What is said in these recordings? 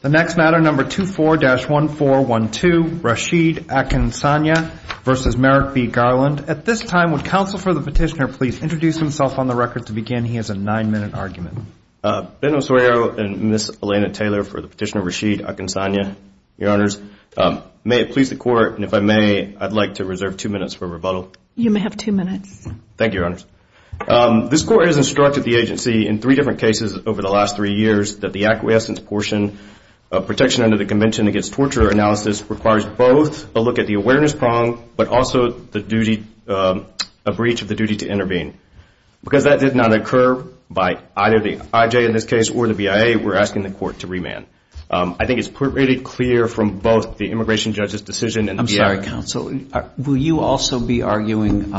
The next matter, number 24-1412, Rashid Akinsanya v. Merrick B. Garland. At this time, would counsel for the petitioner please introduce himself on the record to begin? He has a nine-minute argument. Ben Osorio and Ms. Elena Taylor for the petitioner, Rashid Akinsanya. Your Honors, may it please the Court, and if I may, I'd like to reserve two minutes for rebuttal. You may have two minutes. Thank you, Your Honors. This Court has instructed the agency in three different cases over the last three years that the acquiescence portion of protection under the Convention Against Torture Analysis requires both a look at the awareness prong, but also a breach of the duty to intervene. Because that did not occur by either the IJ in this case or the BIA, we're asking the Court to remand. I think it's pretty clear from both the immigration judge's decision and the BIA. I'm sorry, counsel. Will you also be arguing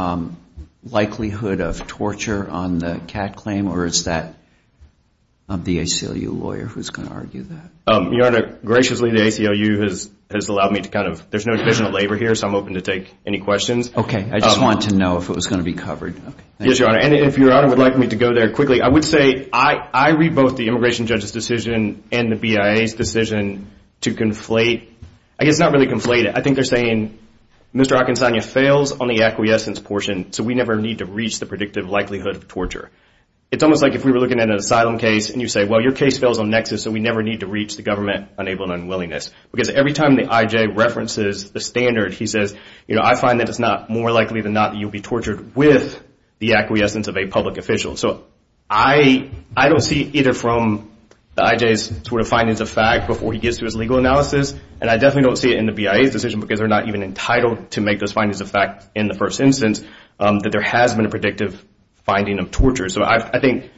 likelihood of torture on the CAD claim, or is that the ACLU lawyer who's going to argue that? Your Honor, graciously, the ACLU has allowed me to kind of – there's no division of labor here, so I'm open to take any questions. Okay. I just wanted to know if it was going to be covered. Yes, Your Honor. And if Your Honor would like me to go there quickly, I would say I read both the immigration judge's decision and the BIA's decision to conflate – I guess not really conflate it. I think they're saying Mr. Akinsanya fails on the acquiescence portion, so we never need to reach the predictive likelihood of torture. It's almost like if we were looking at an asylum case and you say, well, your case fails on nexus, so we never need to reach the government-enabled unwillingness. Because every time the IJ references the standard, he says, you know, I find that it's not more likely than not that you'll be tortured with the acquiescence of a public official. So I don't see either from the IJ's sort of findings of fact before he gets to his legal analysis, and I definitely don't see it in the BIA's decision because they're not even entitled to make those findings of fact in the first instance that there has been a predictive finding of torture. So I think,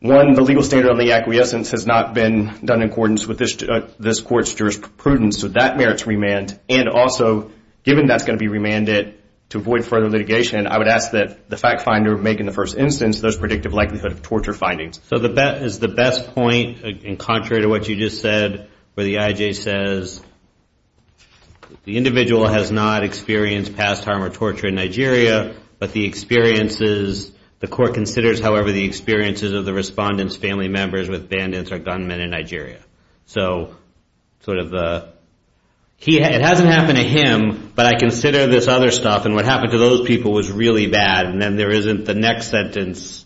one, the legal standard on the acquiescence has not been done in accordance with this court's jurisprudence, so that merits remand. And also, given that's going to be remanded to avoid further litigation, I would ask that the fact finder make, in the first instance, those predictive likelihood of torture findings. So is the best point, in contrary to what you just said, where the IJ says, the individual has not experienced past harm or torture in Nigeria, but the experiences, the court considers, however, the experiences of the respondent's family members with bandits or gunmen in Nigeria. So, sort of, it hasn't happened to him, but I consider this other stuff, and what happened to those people was really bad, and then there isn't the next sentence.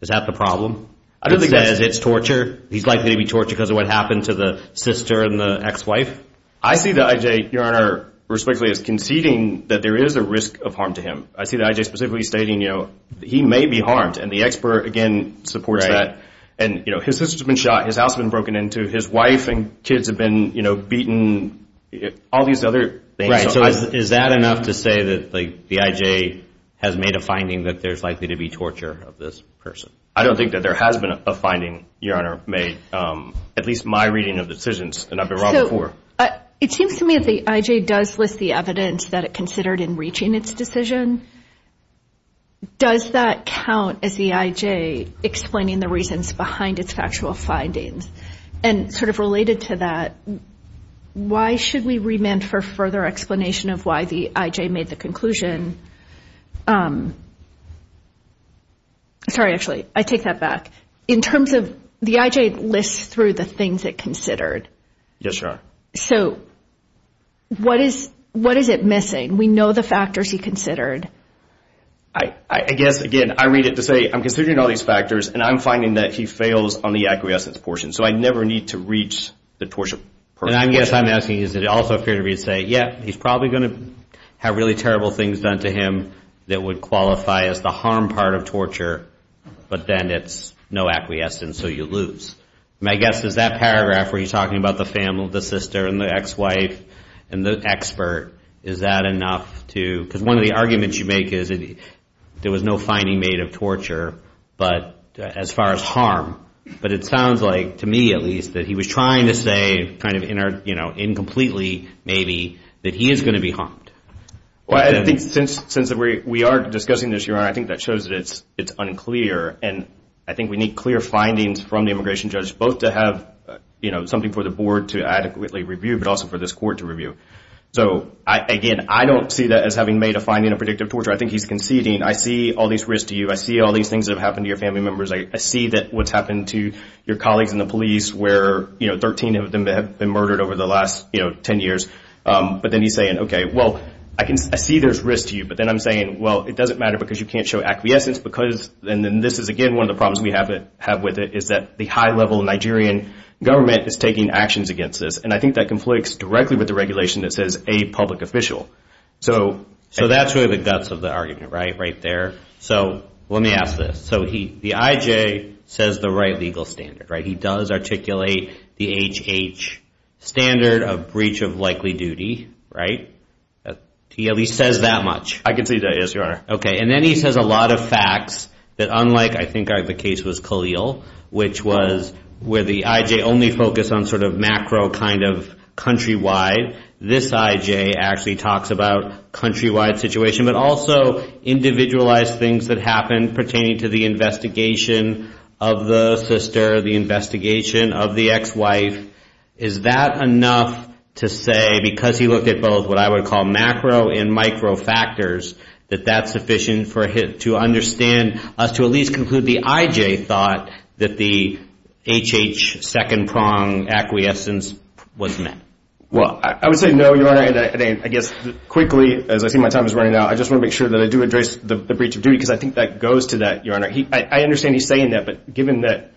Is that the problem? It says it's torture. He's likely to be tortured because of what happened to the sister and the ex-wife? I see the IJ, Your Honor, respectfully, as conceding that there is a risk of harm to him. I see the IJ specifically stating, you know, he may be harmed, and the expert, again, supports that. And, you know, his sister's been shot, his house has been broken into, his wife and kids have been, you know, beaten, all these other things. Right, so is that enough to say that the IJ has made a finding that there's likely to be torture of this person? I don't think that there has been a finding, Your Honor, made, at least my reading of decisions, and I've been wrong before. It seems to me that the IJ does list the evidence that it considered in reaching its decision. Does that count as the IJ explaining the reasons behind its factual findings? And sort of related to that, why should we remand for further explanation of why the IJ made the conclusion? Sorry, actually, I take that back. In terms of the IJ lists through the things it considered. Yes, Your Honor. So what is it missing? We know the factors he considered. I guess, again, I read it to say, I'm considering all these factors, and I'm finding that he fails on the acquiescence portion. So I never need to reach the torture. And I guess I'm asking, is it also fair to say, yeah, he's probably going to have really terrible things done to him that would qualify as the harm part of torture, but then it's no acquiescence, so you lose. My guess is that paragraph where he's talking about the family, the sister, and the ex-wife, and the expert, is that enough to, because one of the arguments you make is that there was no finding made of torture as far as harm. But it sounds like, to me at least, that he was trying to say, kind of incompletely maybe, that he is going to be harmed. Well, I think since we are discussing this, Your Honor, I think that shows that it's unclear. And I think we need clear findings from the immigration judge, both to have something for the board to adequately review, but also for this court to review. So, again, I don't see that as having made a finding of predictive torture. I think he's conceding. I see all these risks to you. I see all these things that have happened to your family members. I see what's happened to your colleagues in the police, where 13 of them have been murdered over the last 10 years. But then he's saying, okay, well, I see there's risk to you. But then I'm saying, well, it doesn't matter because you can't show acquiescence. And this is, again, one of the problems we have with it, is that the high-level Nigerian government is taking actions against this. And I think that conflicts directly with the regulation that says a public official. So that's really the guts of the argument, right, right there. So let me ask this. So the IJ says the right legal standard, right? He does articulate the HH standard of breach of likely duty, right? He at least says that much. I concede that, yes, Your Honor. Okay. And then he says a lot of facts that, unlike, I think the case was Khalil, which was where the IJ only focused on sort of macro kind of countrywide. This IJ actually talks about countrywide situation, but also individualized things that happened pertaining to the investigation of the sister, the investigation of the ex-wife. Is that enough to say, because he looked at both what I would call macro and micro factors, that that's sufficient to understand us to at least conclude the IJ thought that the HH second-prong acquiescence was met? Well, I would say no, Your Honor. And I guess quickly, as I see my time is running out, I just want to make sure that I do address the breach of duty, because I think that goes to that, Your Honor. I understand he's saying that, but given that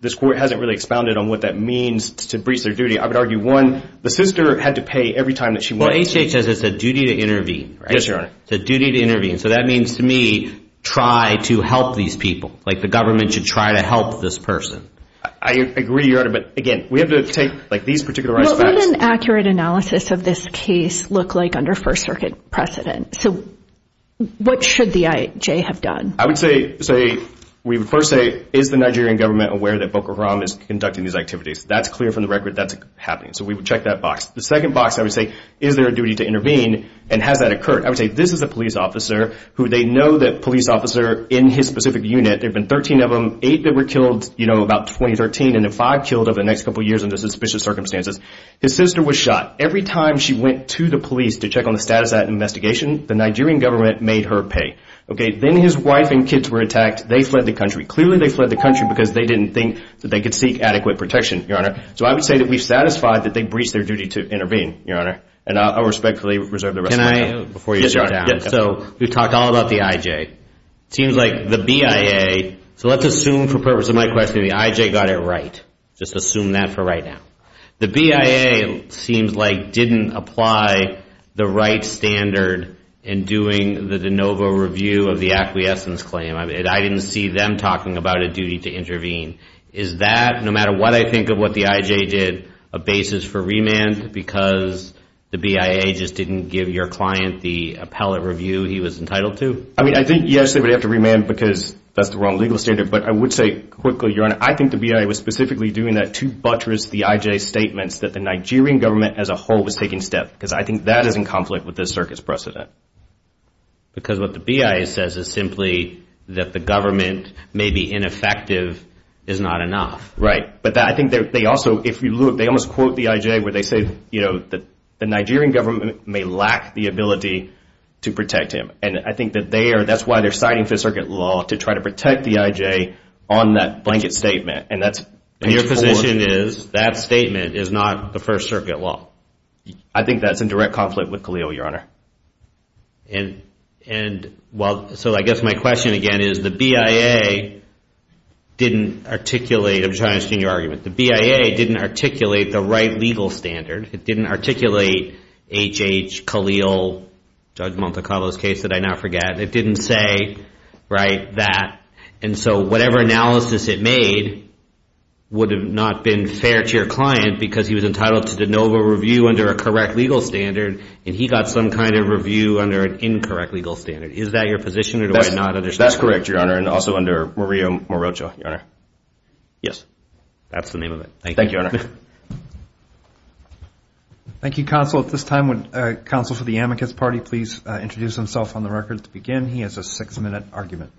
this court hasn't really expounded on what that means to breach their duty, I would argue, one, the sister had to pay every time that she went. Well, HH says it's a duty to intervene, right? Yes, Your Honor. It's a duty to intervene. So that means to me, try to help these people. Like the government should try to help this person. I agree, Your Honor, but again, we have to take like these particular aspects. What would an accurate analysis of this case look like under First Circuit precedent? So what should the IJ have done? I would say, we would first say, is the Nigerian government aware that Boko Haram is conducting these activities? That's clear from the record that's happening. So we would check that box. The second box, I would say, is there a duty to intervene, and has that occurred? I would say, this is a police officer who they know that police officer in his specific unit, there have been 13 of them, eight that were killed, you know, about 2013, and then five killed over the next couple of years under suspicious circumstances. His sister was shot. Every time she went to the police to check on the status of that investigation, the Nigerian government made her pay. Then his wife and kids were attacked. They fled the country. Clearly, they fled the country because they didn't think that they could seek adequate protection, Your Honor. So I would say that we've satisfied that they've breached their duty to intervene, Your Honor, and I'll respectfully reserve the rest of my time. Can I, before you shut down? So we've talked all about the IJ. It seems like the BIA, so let's assume for the purpose of my question, the IJ got it right. Just assume that for right now. The BIA seems like didn't apply the right standard in doing the de novo review of the acquiescence claim. I didn't see them talking about a duty to intervene. Is that, no matter what I think of what the IJ did, a basis for remand because the BIA just didn't give your client the appellate review he was entitled to? I mean, I think, yes, they would have to remand because that's the wrong legal standard, but I would say quickly, Your Honor, I think the BIA was specifically doing that to buttress the IJ's statements that the Nigerian government as a whole was taking steps because I think that is in conflict with this circuit's precedent. Because what the BIA says is simply that the government may be ineffective is not enough. But I think they also, if you look, they almost quote the IJ where they say, you know, the Nigerian government may lack the ability to protect him. And I think that they are, that's why they're signing Fifth Circuit law to try to protect the IJ on that blanket statement. And that's page four. And your position is that statement is not the First Circuit law. I think that's in direct conflict with CALEO, Your Honor. And, well, so I guess my question again is the BIA didn't articulate, I'm just trying to understand your argument, the BIA didn't articulate the right legal standard. It didn't articulate H.H. CALEO, Judge Monte Carlo's case that I now forget. It didn't say, right, that. And so whatever analysis it made would have not been fair to your client because he was entitled to de novo review under a correct legal standard and he got some kind of review under an incorrect legal standard. Is that your position or do I not understand? That's correct, Your Honor. And also under Maria Morocho, Your Honor. Yes. That's the name of it. Thank you. Thank you, Counsel. At this time, would Counsel for the amicus party please introduce himself on the record to begin? He has a six-minute argument.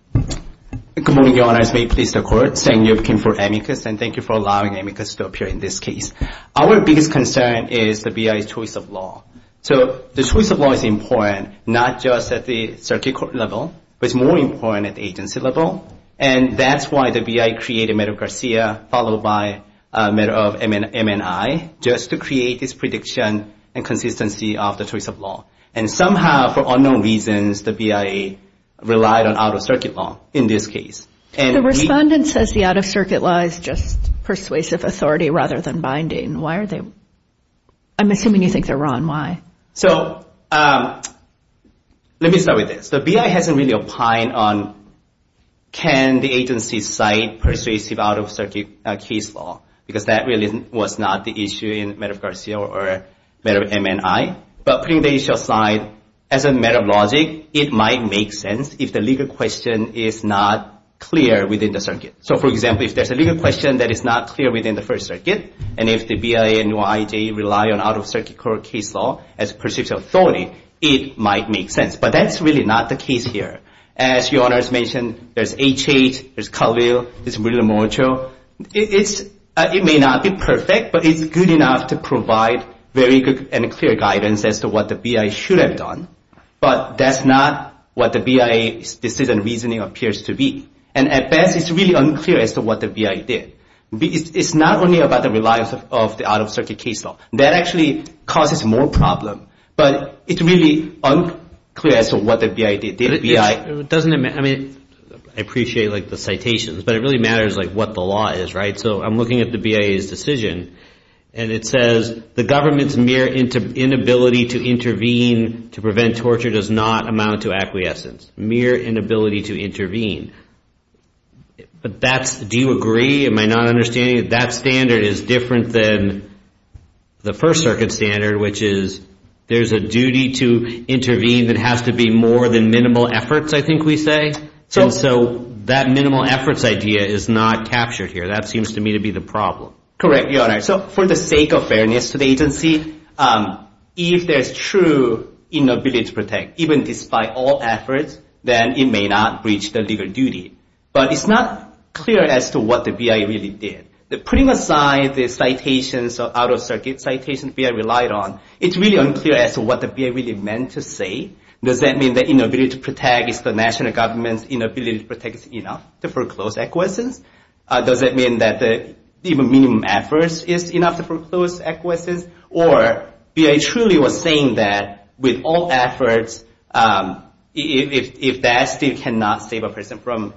Good morning, Your Honors. May it please the Court. Seng Yip Kim for amicus. And thank you for allowing amicus to appear in this case. Our biggest concern is the BIA's choice of law. So the choice of law is important, not just at the circuit court level, but it's more important at the agency level. And that's why the BIA created Medgar Garcia, followed by Medgar of MNI, just to create this prediction and consistency of the choice of law. And somehow, for unknown reasons, the BIA relied on out-of-circuit law in this case. The respondent says the out-of-circuit law is just persuasive authority rather than binding. Why are they? I'm assuming you think they're wrong. So let me start with this. The BIA hasn't really opined on can the agency cite persuasive out-of-circuit case law, because that really was not the issue in Medgar Garcia or Medgar of MNI. But putting the issue aside, as a matter of logic, it might make sense if the legal question is not clear within the circuit. So, for example, if there's a legal question that is not clear within the First Circuit, and if the BIA and UIJ rely on out-of-circuit court case law as persuasive authority, it might make sense. But that's really not the case here. As your Honor has mentioned, there's HH, there's Calville, there's Murillo-Mocho. It may not be perfect, but it's good enough to provide very good and clear guidance as to what the BIA should have done. But that's not what the BIA's decision reasoning appears to be. And at best, it's really unclear as to what the BIA did. It's not only about the reliance of the out-of-circuit case law. That actually causes more problem. But it's really unclear as to what the BIA did. I appreciate the citations, but it really matters what the law is, right? So I'm looking at the BIA's decision. And it says, the government's mere inability to intervene to prevent torture does not amount to acquiescence. Mere inability to intervene. Do you agree? Am I not understanding that that standard is different than the First Circuit standard, which is there's a duty to intervene that has to be more than minimal efforts, I think we say? And so that minimal efforts idea is not captured here. That seems to me to be the problem. Correct, Your Honor. So for the sake of fairness to the agency, if there's true inability to protect, even despite all efforts, then it may not breach the legal duty. But it's not clear as to what the BIA really did. Putting aside the citations, out-of-circuit citations BIA relied on, it's really unclear as to what the BIA really meant to say. Does that mean that inability to protect is the national government's inability to protect enough to foreclose acquiescence? Does that mean that even minimum efforts is enough to foreclose acquiescence? Or BIA truly was saying that with all efforts, if that still cannot save a person from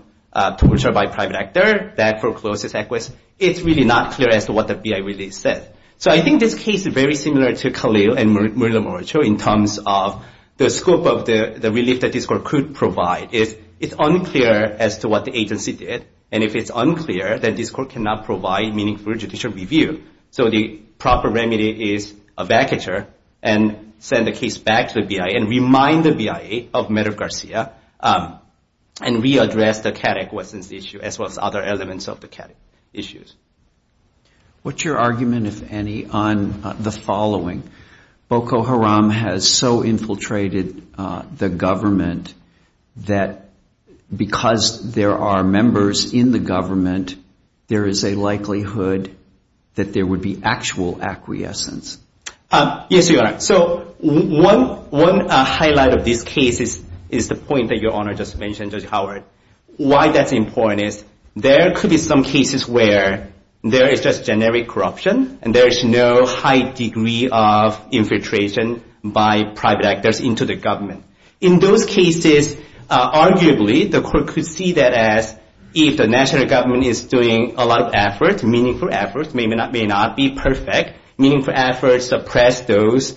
torture by a private actor, that forecloses acquiescence, it's really not clear as to what the BIA really said. So I think this case is very similar to Khalil and Murillo-Murillo in terms of the scope of the relief that this court could provide. It's unclear as to what the agency did. And if it's unclear, then this court cannot provide meaningful judicial review. So the proper remedy is a vacature and send the case back to the BIA and remind the BIA of Medoff-Garcia and re-address the CADEC acquiescence issue as well as other elements of the CADEC issues. What's your argument, if any, on the following? Boko Haram has so infiltrated the government that because there are members in the government, there is a likelihood that there would be actual acquiescence. Yes, Your Honor. So one highlight of this case is the point that Your Honor just mentioned, Judge Howard. Why that's important is there could be some cases where there is just generic corruption and there is no high degree of infiltration by private actors into the government. In those cases, arguably, the court could see that as if the national government is doing a lot of effort, meaningful efforts, may or may not be perfect, meaningful efforts suppress those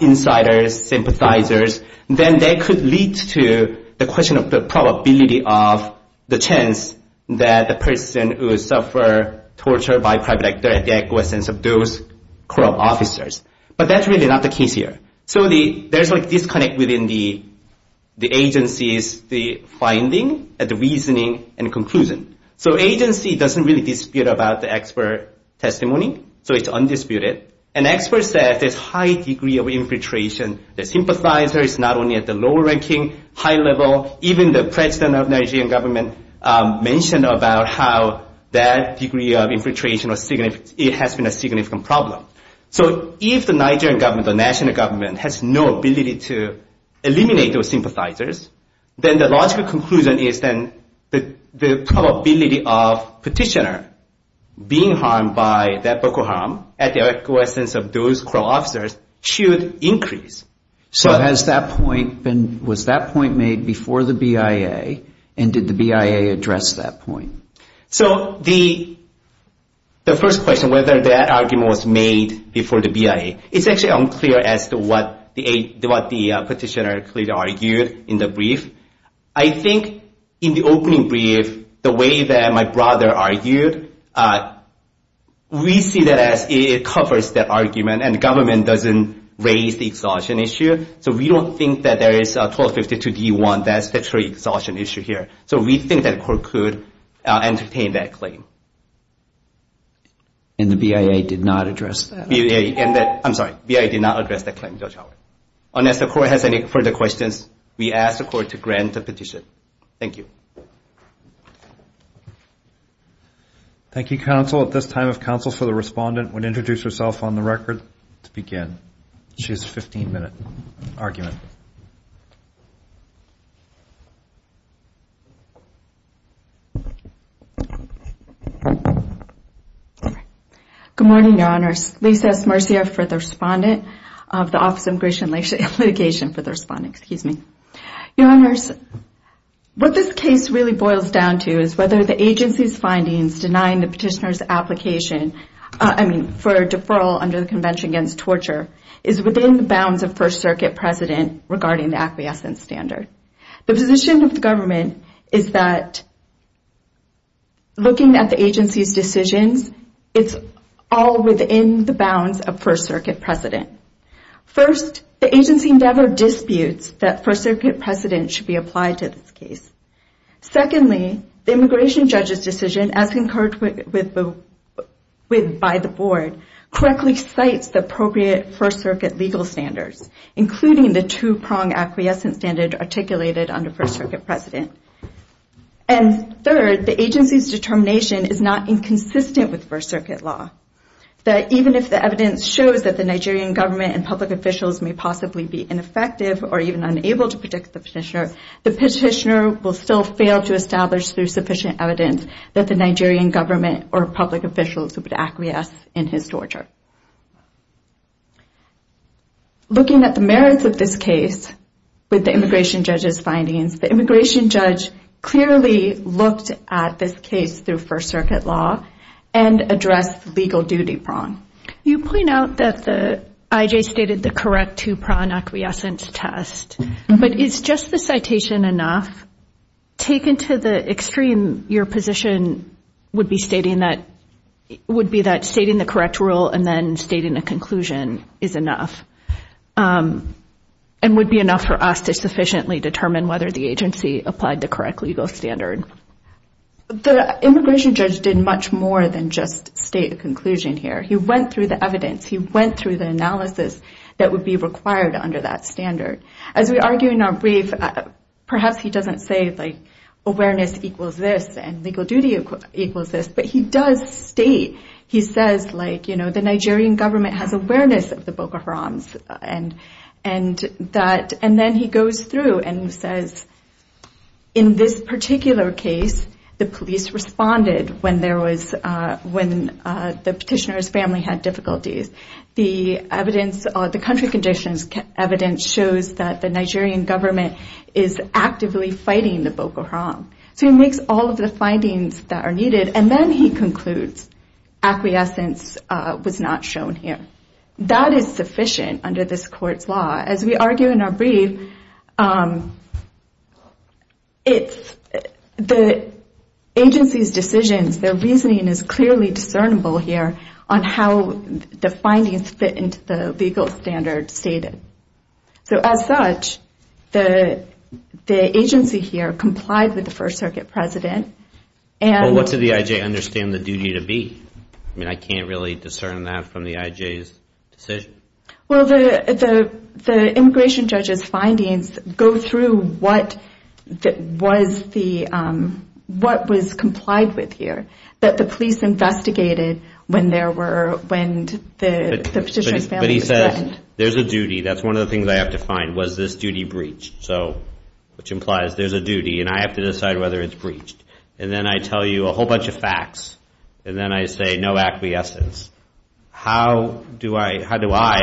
insiders, sympathizers, then that could lead to the question of the probability of the chance that the person who suffered torture by private actor had the acquiescence of those corrupt officers. But that's really not the case here. So there's a disconnect within the agency's finding and the reasoning and conclusion. So agency doesn't really dispute about the expert testimony, so it's undisputed. An expert says there's high degree of infiltration. The sympathizer is not only at the lower ranking, high level. Even the president of Nigerian government mentioned about how that degree of infiltration has been a significant problem. So if the Nigerian government, the national government, has no ability to eliminate those sympathizers, then the logical conclusion is then the probability of petitioner being harmed by that vocal harm at the acquiescence of those corrupt officers should increase. So has that point been, was that point made before the BIA, and did the BIA address that point? So the first question, whether that argument was made before the BIA, it's actually unclear as to what the petitioner clearly argued in the brief. I think in the opening brief, the way that my brother argued, we see that as it covers that argument, and the government doesn't raise the exhaustion issue. So we don't think that there is 1252 D1, that's the true exhaustion issue here. So we think that court could entertain that claim. And the BIA did not address that. I'm sorry, BIA did not address that claim, Judge Howard. Unless the court has any further questions, we ask the court to grant the petition. Thank you. Thank you, counsel. At this time, if counsel for the respondent would introduce herself on the record to begin. She has a 15-minute argument. Good morning, Your Honors. Lisa S. Marcia for the respondent of the Office of Immigration and Litigation for the respondent. Excuse me. Your Honors, what this case really boils down to is whether the agency's findings denying the petitioner's application, I mean, for a deferral under the Convention Against Torture, is within the bounds of First Circuit precedent regarding the acquiescence standard. The position of the government is that looking at the agency's decisions, it's all within the bounds of First Circuit precedent. First, the agency never disputes that First Circuit precedent should be applied to this case. Secondly, the immigration judge's decision, as concurred by the board, correctly cites the appropriate First Circuit legal standards, including the two-prong acquiescence standard articulated under First Circuit precedent. And third, the agency's determination is not inconsistent with First Circuit law, that even if the evidence shows that the Nigerian government and public officials may possibly be ineffective or even unable to protect the petitioner, the petitioner will still fail to establish through sufficient evidence that the Nigerian government or public officials would acquiesce in his torture. Looking at the merits of this case with the immigration judge's findings, the immigration judge clearly looked at this case through First Circuit law and addressed legal duty prong. You point out that the IJ stated the correct two-prong acquiescence test, but is just the citation enough? Taken to the extreme, your position would be stating that, would be that stating the correct rule and then stating a conclusion is enough and would be enough for us to sufficiently determine whether the agency applied the correct legal standard. The immigration judge did much more than just state a conclusion here. He went through the evidence. He went through the analysis that would be required under that standard. As we argue in our brief, perhaps he doesn't say, like, awareness equals this and legal duty equals this, but he does state, he says, like, you know, the Nigerian government has awareness of the Boko Harams. And then he goes through and says, in this particular case, the police responded when the petitioner's family had difficulties. The evidence, the country conditions evidence shows that the Nigerian government is actively fighting the Boko Haram. So he makes all of the findings that are needed, and then he concludes acquiescence was not shown here. That is sufficient under this court's law. As we argue in our brief, the agency's decisions, their reasoning is clearly discernible here on how the findings fit into the legal standard stated. So as such, the agency here complied with the First Circuit President. Well, what did the IJ understand the duty to be? I mean, I can't really discern that from the IJ's decision. Well, the immigration judge's findings go through what was complied with here, that the police investigated when the petitioner's family was threatened. But he says, there's a duty, that's one of the things I have to find, was this duty breached. So which implies there's a duty, and I have to decide whether it's breached. And then I tell you a whole bunch of facts, and then I say no acquiescence. How do I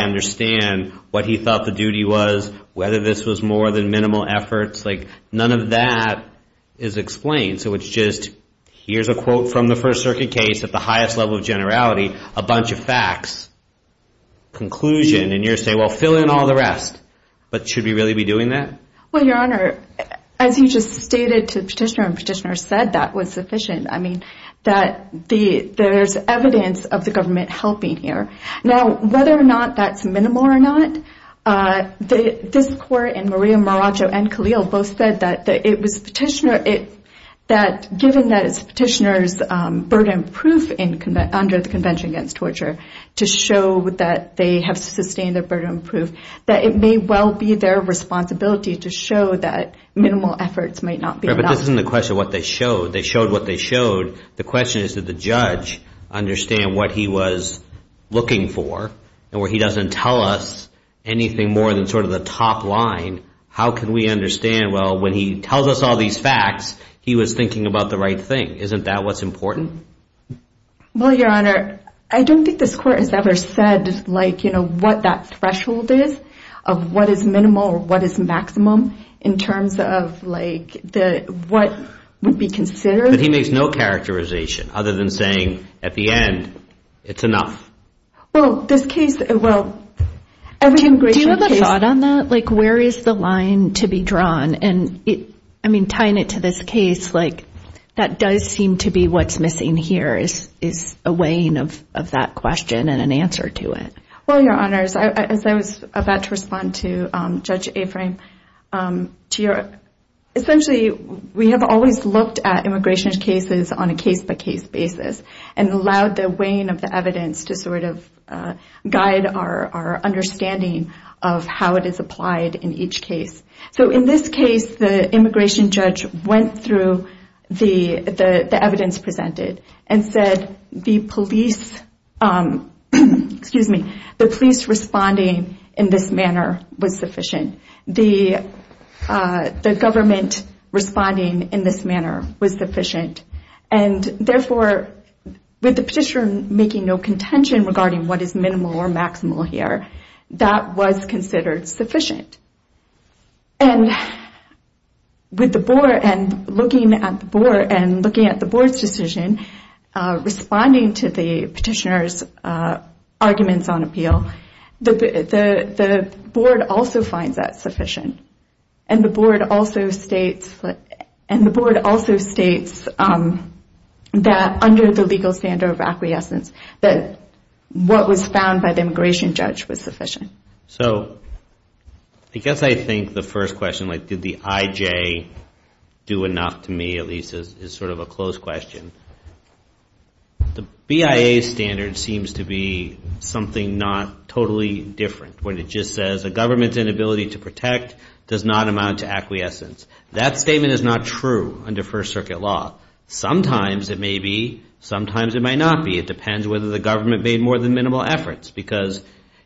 understand what he thought the duty was, whether this was more than minimal efforts? Like, none of that is explained. So it's just, here's a quote from the First Circuit case at the highest level of generality, a bunch of facts, conclusion, and you're saying, well, fill in all the rest. But should we really be doing that? Well, Your Honor, as you just stated to the petitioner and petitioner said, that was sufficient. I mean, there's evidence of the government helping here. Now, whether or not that's minimal or not, this court and Maria Maraccio and Khalil both said that it was petitioner, that given that it's petitioner's burden of proof under the Convention Against Torture to show that they have sustained their burden of proof, that it may well be their responsibility to show that minimal efforts might not be enough. But this isn't the question of what they showed. They showed what they showed. The question is, did the judge understand what he was looking for? And where he doesn't tell us anything more than sort of the top line, how can we understand, well, when he tells us all these facts, he was thinking about the right thing. Isn't that what's important? Well, Your Honor, I don't think this court has ever said, like, you know, what that threshold is of what is minimal or what is maximum in terms of, like, what would be considered. But he makes no characterization other than saying, at the end, it's enough. Well, this case, well, every immigration case— I mean, tying it to this case, like, that does seem to be what's missing here is a weighing of that question and an answer to it. Well, Your Honors, as I was about to respond to Judge Aframe, essentially we have always looked at immigration cases on a case-by-case basis and allowed the weighing of the evidence to sort of guide our understanding of how it is applied in each case. So in this case, the immigration judge went through the evidence presented and said the police—excuse me—the police responding in this manner was sufficient. The government responding in this manner was sufficient. And therefore, with the petitioner making no contention regarding what is minimal or maximal here, that was considered sufficient. And with the board and looking at the board's decision, responding to the petitioner's arguments on appeal, the board also finds that sufficient. And the board also states that under the legal standard of acquiescence, that what was found by the immigration judge was sufficient. So I guess I think the first question, like, did the IJ do enough to me, at least, is sort of a close question. The BIA standard seems to be something not totally different, when it just says a government's inability to protect does not amount to acquiescence. That statement is not true under First Circuit law. Sometimes it may be, sometimes it might not be. It depends whether the government made more than minimal efforts. Because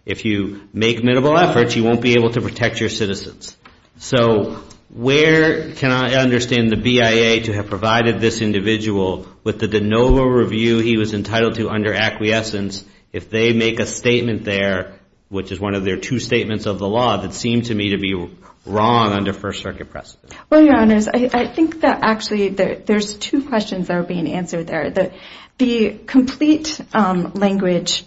if you make minimal efforts, you won't be able to protect your citizens. So where can I understand the BIA to have provided this individual with the de novo review he was entitled to under acquiescence if they make a statement there, which is one of their two statements of the law, that seemed to me to be wrong under First Circuit precedent? Well, Your Honors, I think that actually there's two questions that are being answered there. The complete language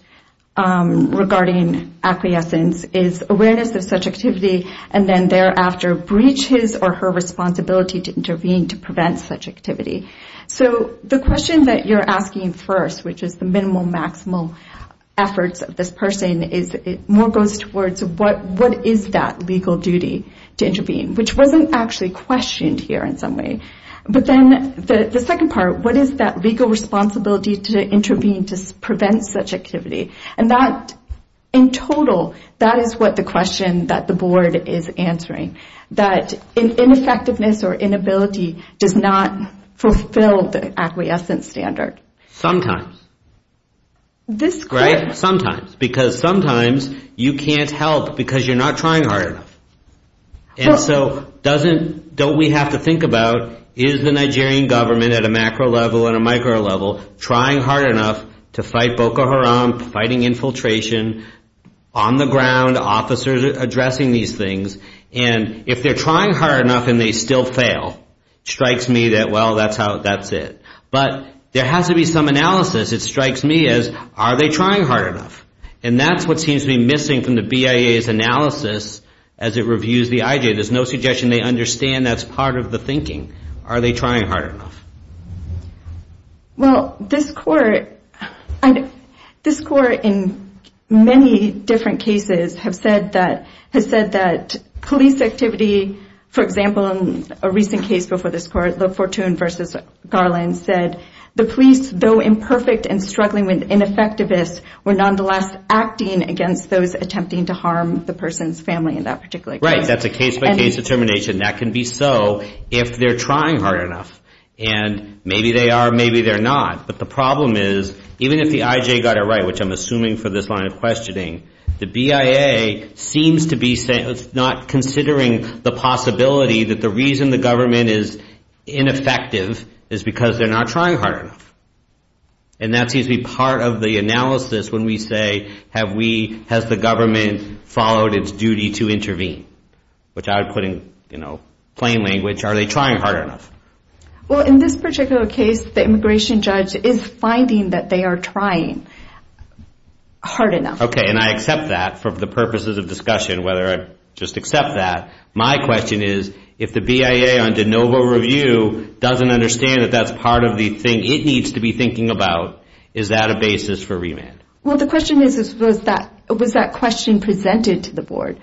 regarding acquiescence is awareness of such activity, and then thereafter breaches or her responsibility to intervene to prevent such activity. So the question that you're asking first, which is the minimal, maximal efforts of this person, more goes towards what is that legal duty to intervene, which wasn't actually questioned here in some way. But then the second part, what is that legal responsibility to intervene to prevent such activity? And that, in total, that is what the question that the board is answering, that ineffectiveness or inability does not fulfill the acquiescence standard. Sometimes. Right? Sometimes. Because sometimes you can't help because you're not trying hard enough. And so don't we have to think about, is the Nigerian government at a macro level and a micro level trying hard enough to fight Boko Haram, fighting infiltration, on the ground, officers addressing these things? And if they're trying hard enough and they still fail, it strikes me that, well, that's it. But there has to be some analysis. It strikes me as, are they trying hard enough? And that's what seems to be missing from the BIA's analysis as it reviews the IJ. There's no suggestion they understand that's part of the thinking. Are they trying hard enough? Well, this court in many different cases has said that police activity, for example, in a recent case before this court, the Fortune v. Garland said, the police, though imperfect and struggling with ineffectiveness, were nonetheless acting against those attempting to harm the person's family in that particular case. Right. That's a case-by-case determination. That can be so if they're trying hard enough. And maybe they are, maybe they're not. But the problem is, even if the IJ got it right, which I'm assuming for this line of questioning, the BIA seems to be not considering the possibility that the reason the government is ineffective is because they're not trying hard enough. And that seems to be part of the analysis when we say, has the government followed its duty to intervene, which I would put in plain language, are they trying hard enough? Well, in this particular case, the immigration judge is finding that they are trying hard enough. Okay, and I accept that for the purposes of discussion, whether I just accept that. My question is, if the BIA on de novo review doesn't understand that that's part of the thing it needs to be thinking about, is that a basis for remand? Well, the question is, was that question presented to the board?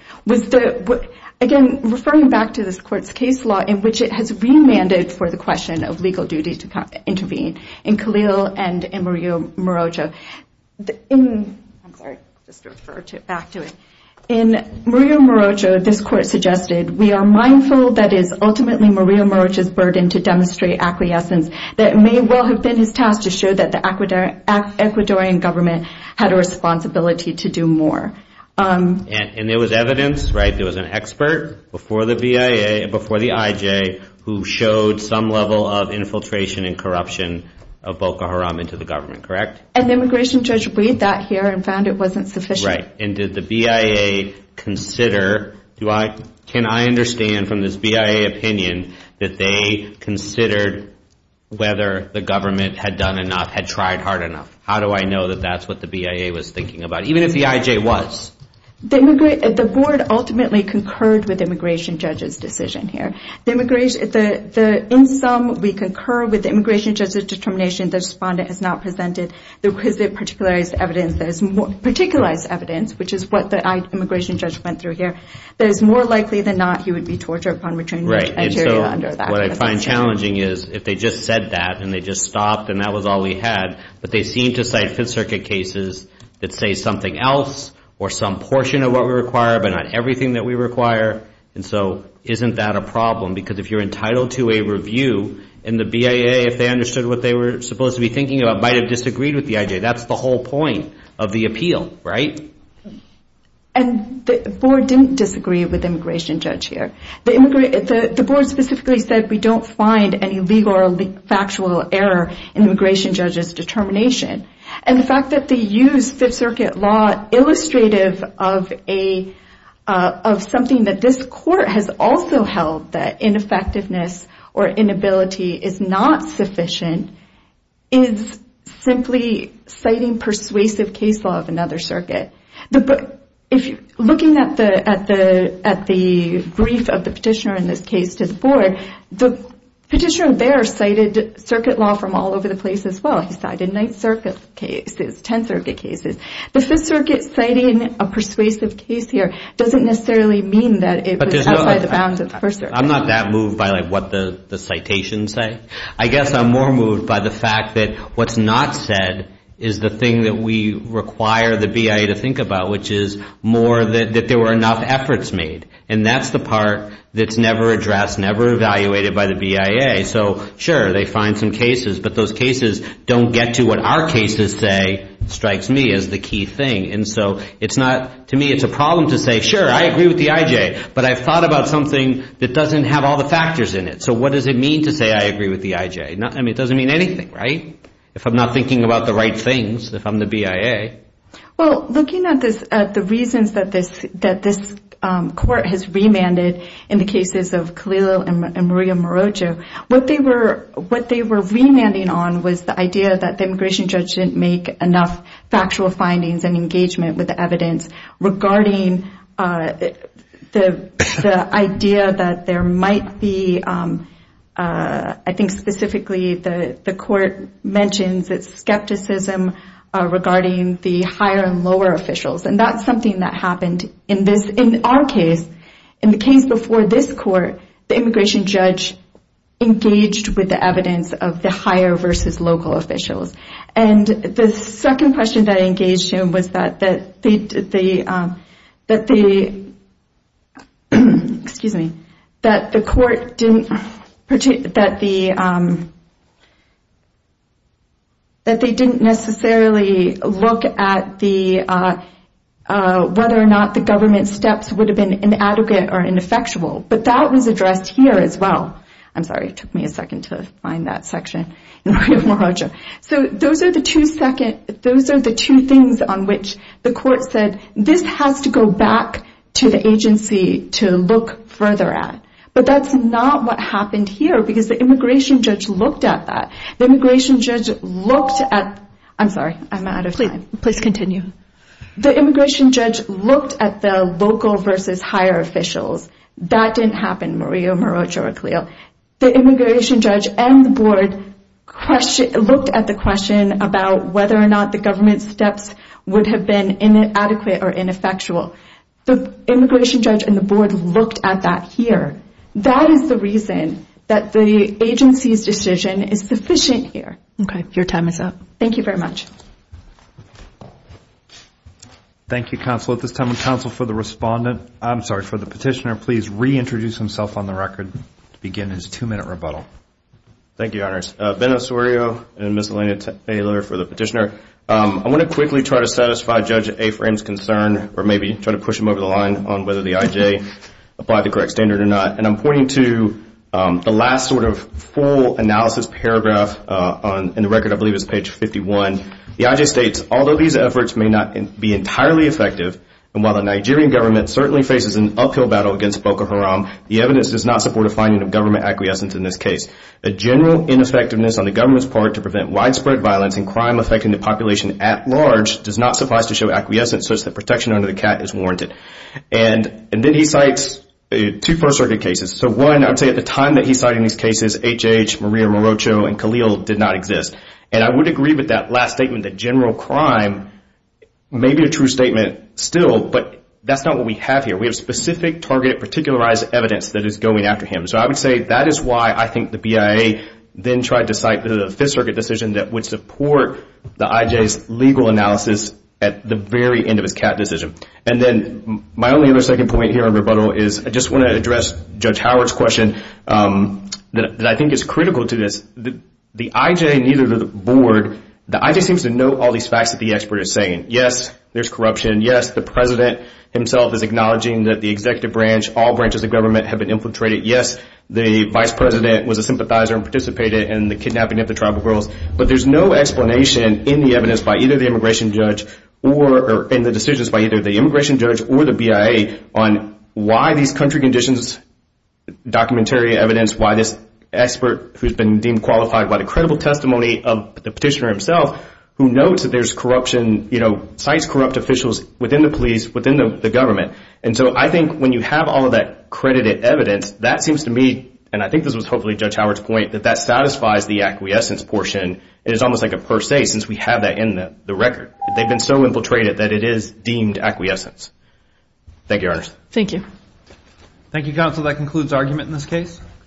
Again, referring back to this court's case law in which it has remanded for the question of legal duty to intervene, in Khalil and in Maria Morojo. I'm sorry, just refer back to it. In Maria Morojo, this court suggested, we are mindful that it is ultimately Maria Morojo's burden to demonstrate acquiescence that may well have been his task to show that the Ecuadorian government had a responsibility to do more. And there was evidence, right? Before the BIA, before the IJ, who showed some level of infiltration and corruption of Boko Haram into the government, correct? And the immigration judge read that here and found it wasn't sufficient. Right, and did the BIA consider, can I understand from this BIA opinion, that they considered whether the government had done enough, had tried hard enough? How do I know that that's what the BIA was thinking about, even if the IJ was? The board ultimately concurred with the immigration judge's decision here. In sum, we concur with the immigration judge's determination. The respondent has not presented the requisite particularized evidence. There's more particularized evidence, which is what the immigration judge went through here, that it's more likely than not he would be tortured upon return. Right, and so what I find challenging is if they just said that and they just stopped and that was all we had, but they seem to cite Fifth Circuit cases that say something else or some portion of what we require, but not everything that we require, and so isn't that a problem? Because if you're entitled to a review, and the BIA, if they understood what they were supposed to be thinking about, might have disagreed with the IJ. That's the whole point of the appeal, right? And the board didn't disagree with the immigration judge here. The board specifically said we don't find any legal or factual error in the immigration judge's determination. And the fact that they used Fifth Circuit law illustrative of something that this court has also held, that ineffectiveness or inability is not sufficient, is simply citing persuasive case law of another circuit. Looking at the brief of the petitioner in this case to the board, the petitioner there cited circuit law from all over the place as well. He cited Ninth Circuit cases, Tenth Circuit cases. The Fifth Circuit citing a persuasive case here doesn't necessarily mean that it was outside the bounds of the First Circuit. I'm not that moved by what the citations say. I guess I'm more moved by the fact that what's not said is the thing that we require the BIA to think about, which is more that there were enough efforts made. And that's the part that's never addressed, never evaluated by the BIA. So, sure, they find some cases, but those cases don't get to what our cases say, strikes me as the key thing. And so it's not, to me, it's a problem to say, sure, I agree with the IJ, but I've thought about something that doesn't have all the factors in it. So what does it mean to say I agree with the IJ? I mean, it doesn't mean anything, right? If I'm not thinking about the right things, if I'm the BIA. Well, looking at the reasons that this court has remanded in the cases of Kalilo and Maria Morojo, what they were remanding on was the idea that the immigration judge didn't make enough factual findings and engagement with the evidence regarding the idea that there might be, I think specifically the court mentions, it's skepticism regarding the higher and lower officials. And that's something that happened in our case. In the case before this court, the immigration judge engaged with the evidence of the higher versus local officials. And the second question that I engaged in was that they didn't necessarily look at whether or not the government steps would have been inadequate or ineffectual. But that was addressed here as well. I'm sorry, it took me a second to find that section. So those are the two things on which the court said, this has to go back to the agency to look further at. But that's not what happened here because the immigration judge looked at that. The immigration judge looked at, I'm sorry, I'm out of time. Please continue. The immigration judge looked at the local versus higher officials. That didn't happen, Maria Morojo or Kalilo. The immigration judge and the board looked at the question about whether or not the government steps would have been inadequate or ineffectual. The immigration judge and the board looked at that here. That is the reason that the agency's decision is sufficient here. Okay, your time is up. Thank you very much. Thank you, counsel. At this time, the counsel for the respondent, I'm sorry, for the petitioner, please reintroduce himself on the record to begin his two-minute rebuttal. Thank you, your honors. Ben Osorio and Ms. Elena Taylor for the petitioner. I want to quickly try to satisfy Judge Afram's concern or maybe try to push him over the line on whether the IJ applied the correct standard or not. And I'm pointing to the last sort of full analysis paragraph in the record, I believe it's page 51. The IJ states, although these efforts may not be entirely effective, and while the Nigerian government certainly faces an uphill battle against Boko Haram, the evidence does not support a finding of government acquiescence in this case. A general ineffectiveness on the government's part to prevent widespread violence and crime affecting the population at large does not suffice to show acquiescence such that protection under the cat is warranted. And then he cites two first-circuit cases. So one, I would say at the time that he cited these cases, HH, Maria Morojo, and Kalilo did not exist. And I would agree with that last statement that general crime may be a true statement still, but that's not what we have here. We have specific, targeted, particularized evidence that is going after him. So I would say that is why I think the BIA then tried to cite the Fifth Circuit decision that would support the IJ's legal analysis at the very end of his cat decision. And then my only other second point here in rebuttal is I just want to address Judge Howard's question that I think is critical to this. The IJ and either the board, the IJ seems to know all these facts that the expert is saying. Yes, there's corruption. Yes, the president himself is acknowledging that the executive branch, all branches of government have been infiltrated. Yes, the vice president was a sympathizer and participated in the kidnapping of the tribal girls. But there's no explanation in the evidence by either the immigration judge or in the decisions by either the immigration judge or the BIA on why these country conditions, documentary evidence, why this expert who's been deemed qualified by the credible testimony of the petitioner himself, who notes that there's corruption, you know, cites corrupt officials within the police, within the government. And so I think when you have all of that credited evidence, that seems to me, and I think this was hopefully Judge Howard's point, that that satisfies the acquiescence portion. It is almost like a per se since we have that in the record. They've been so infiltrated that it is deemed acquiescence. Thank you, Your Honor. Thank you. Thank you, counsel. That concludes argument in this case.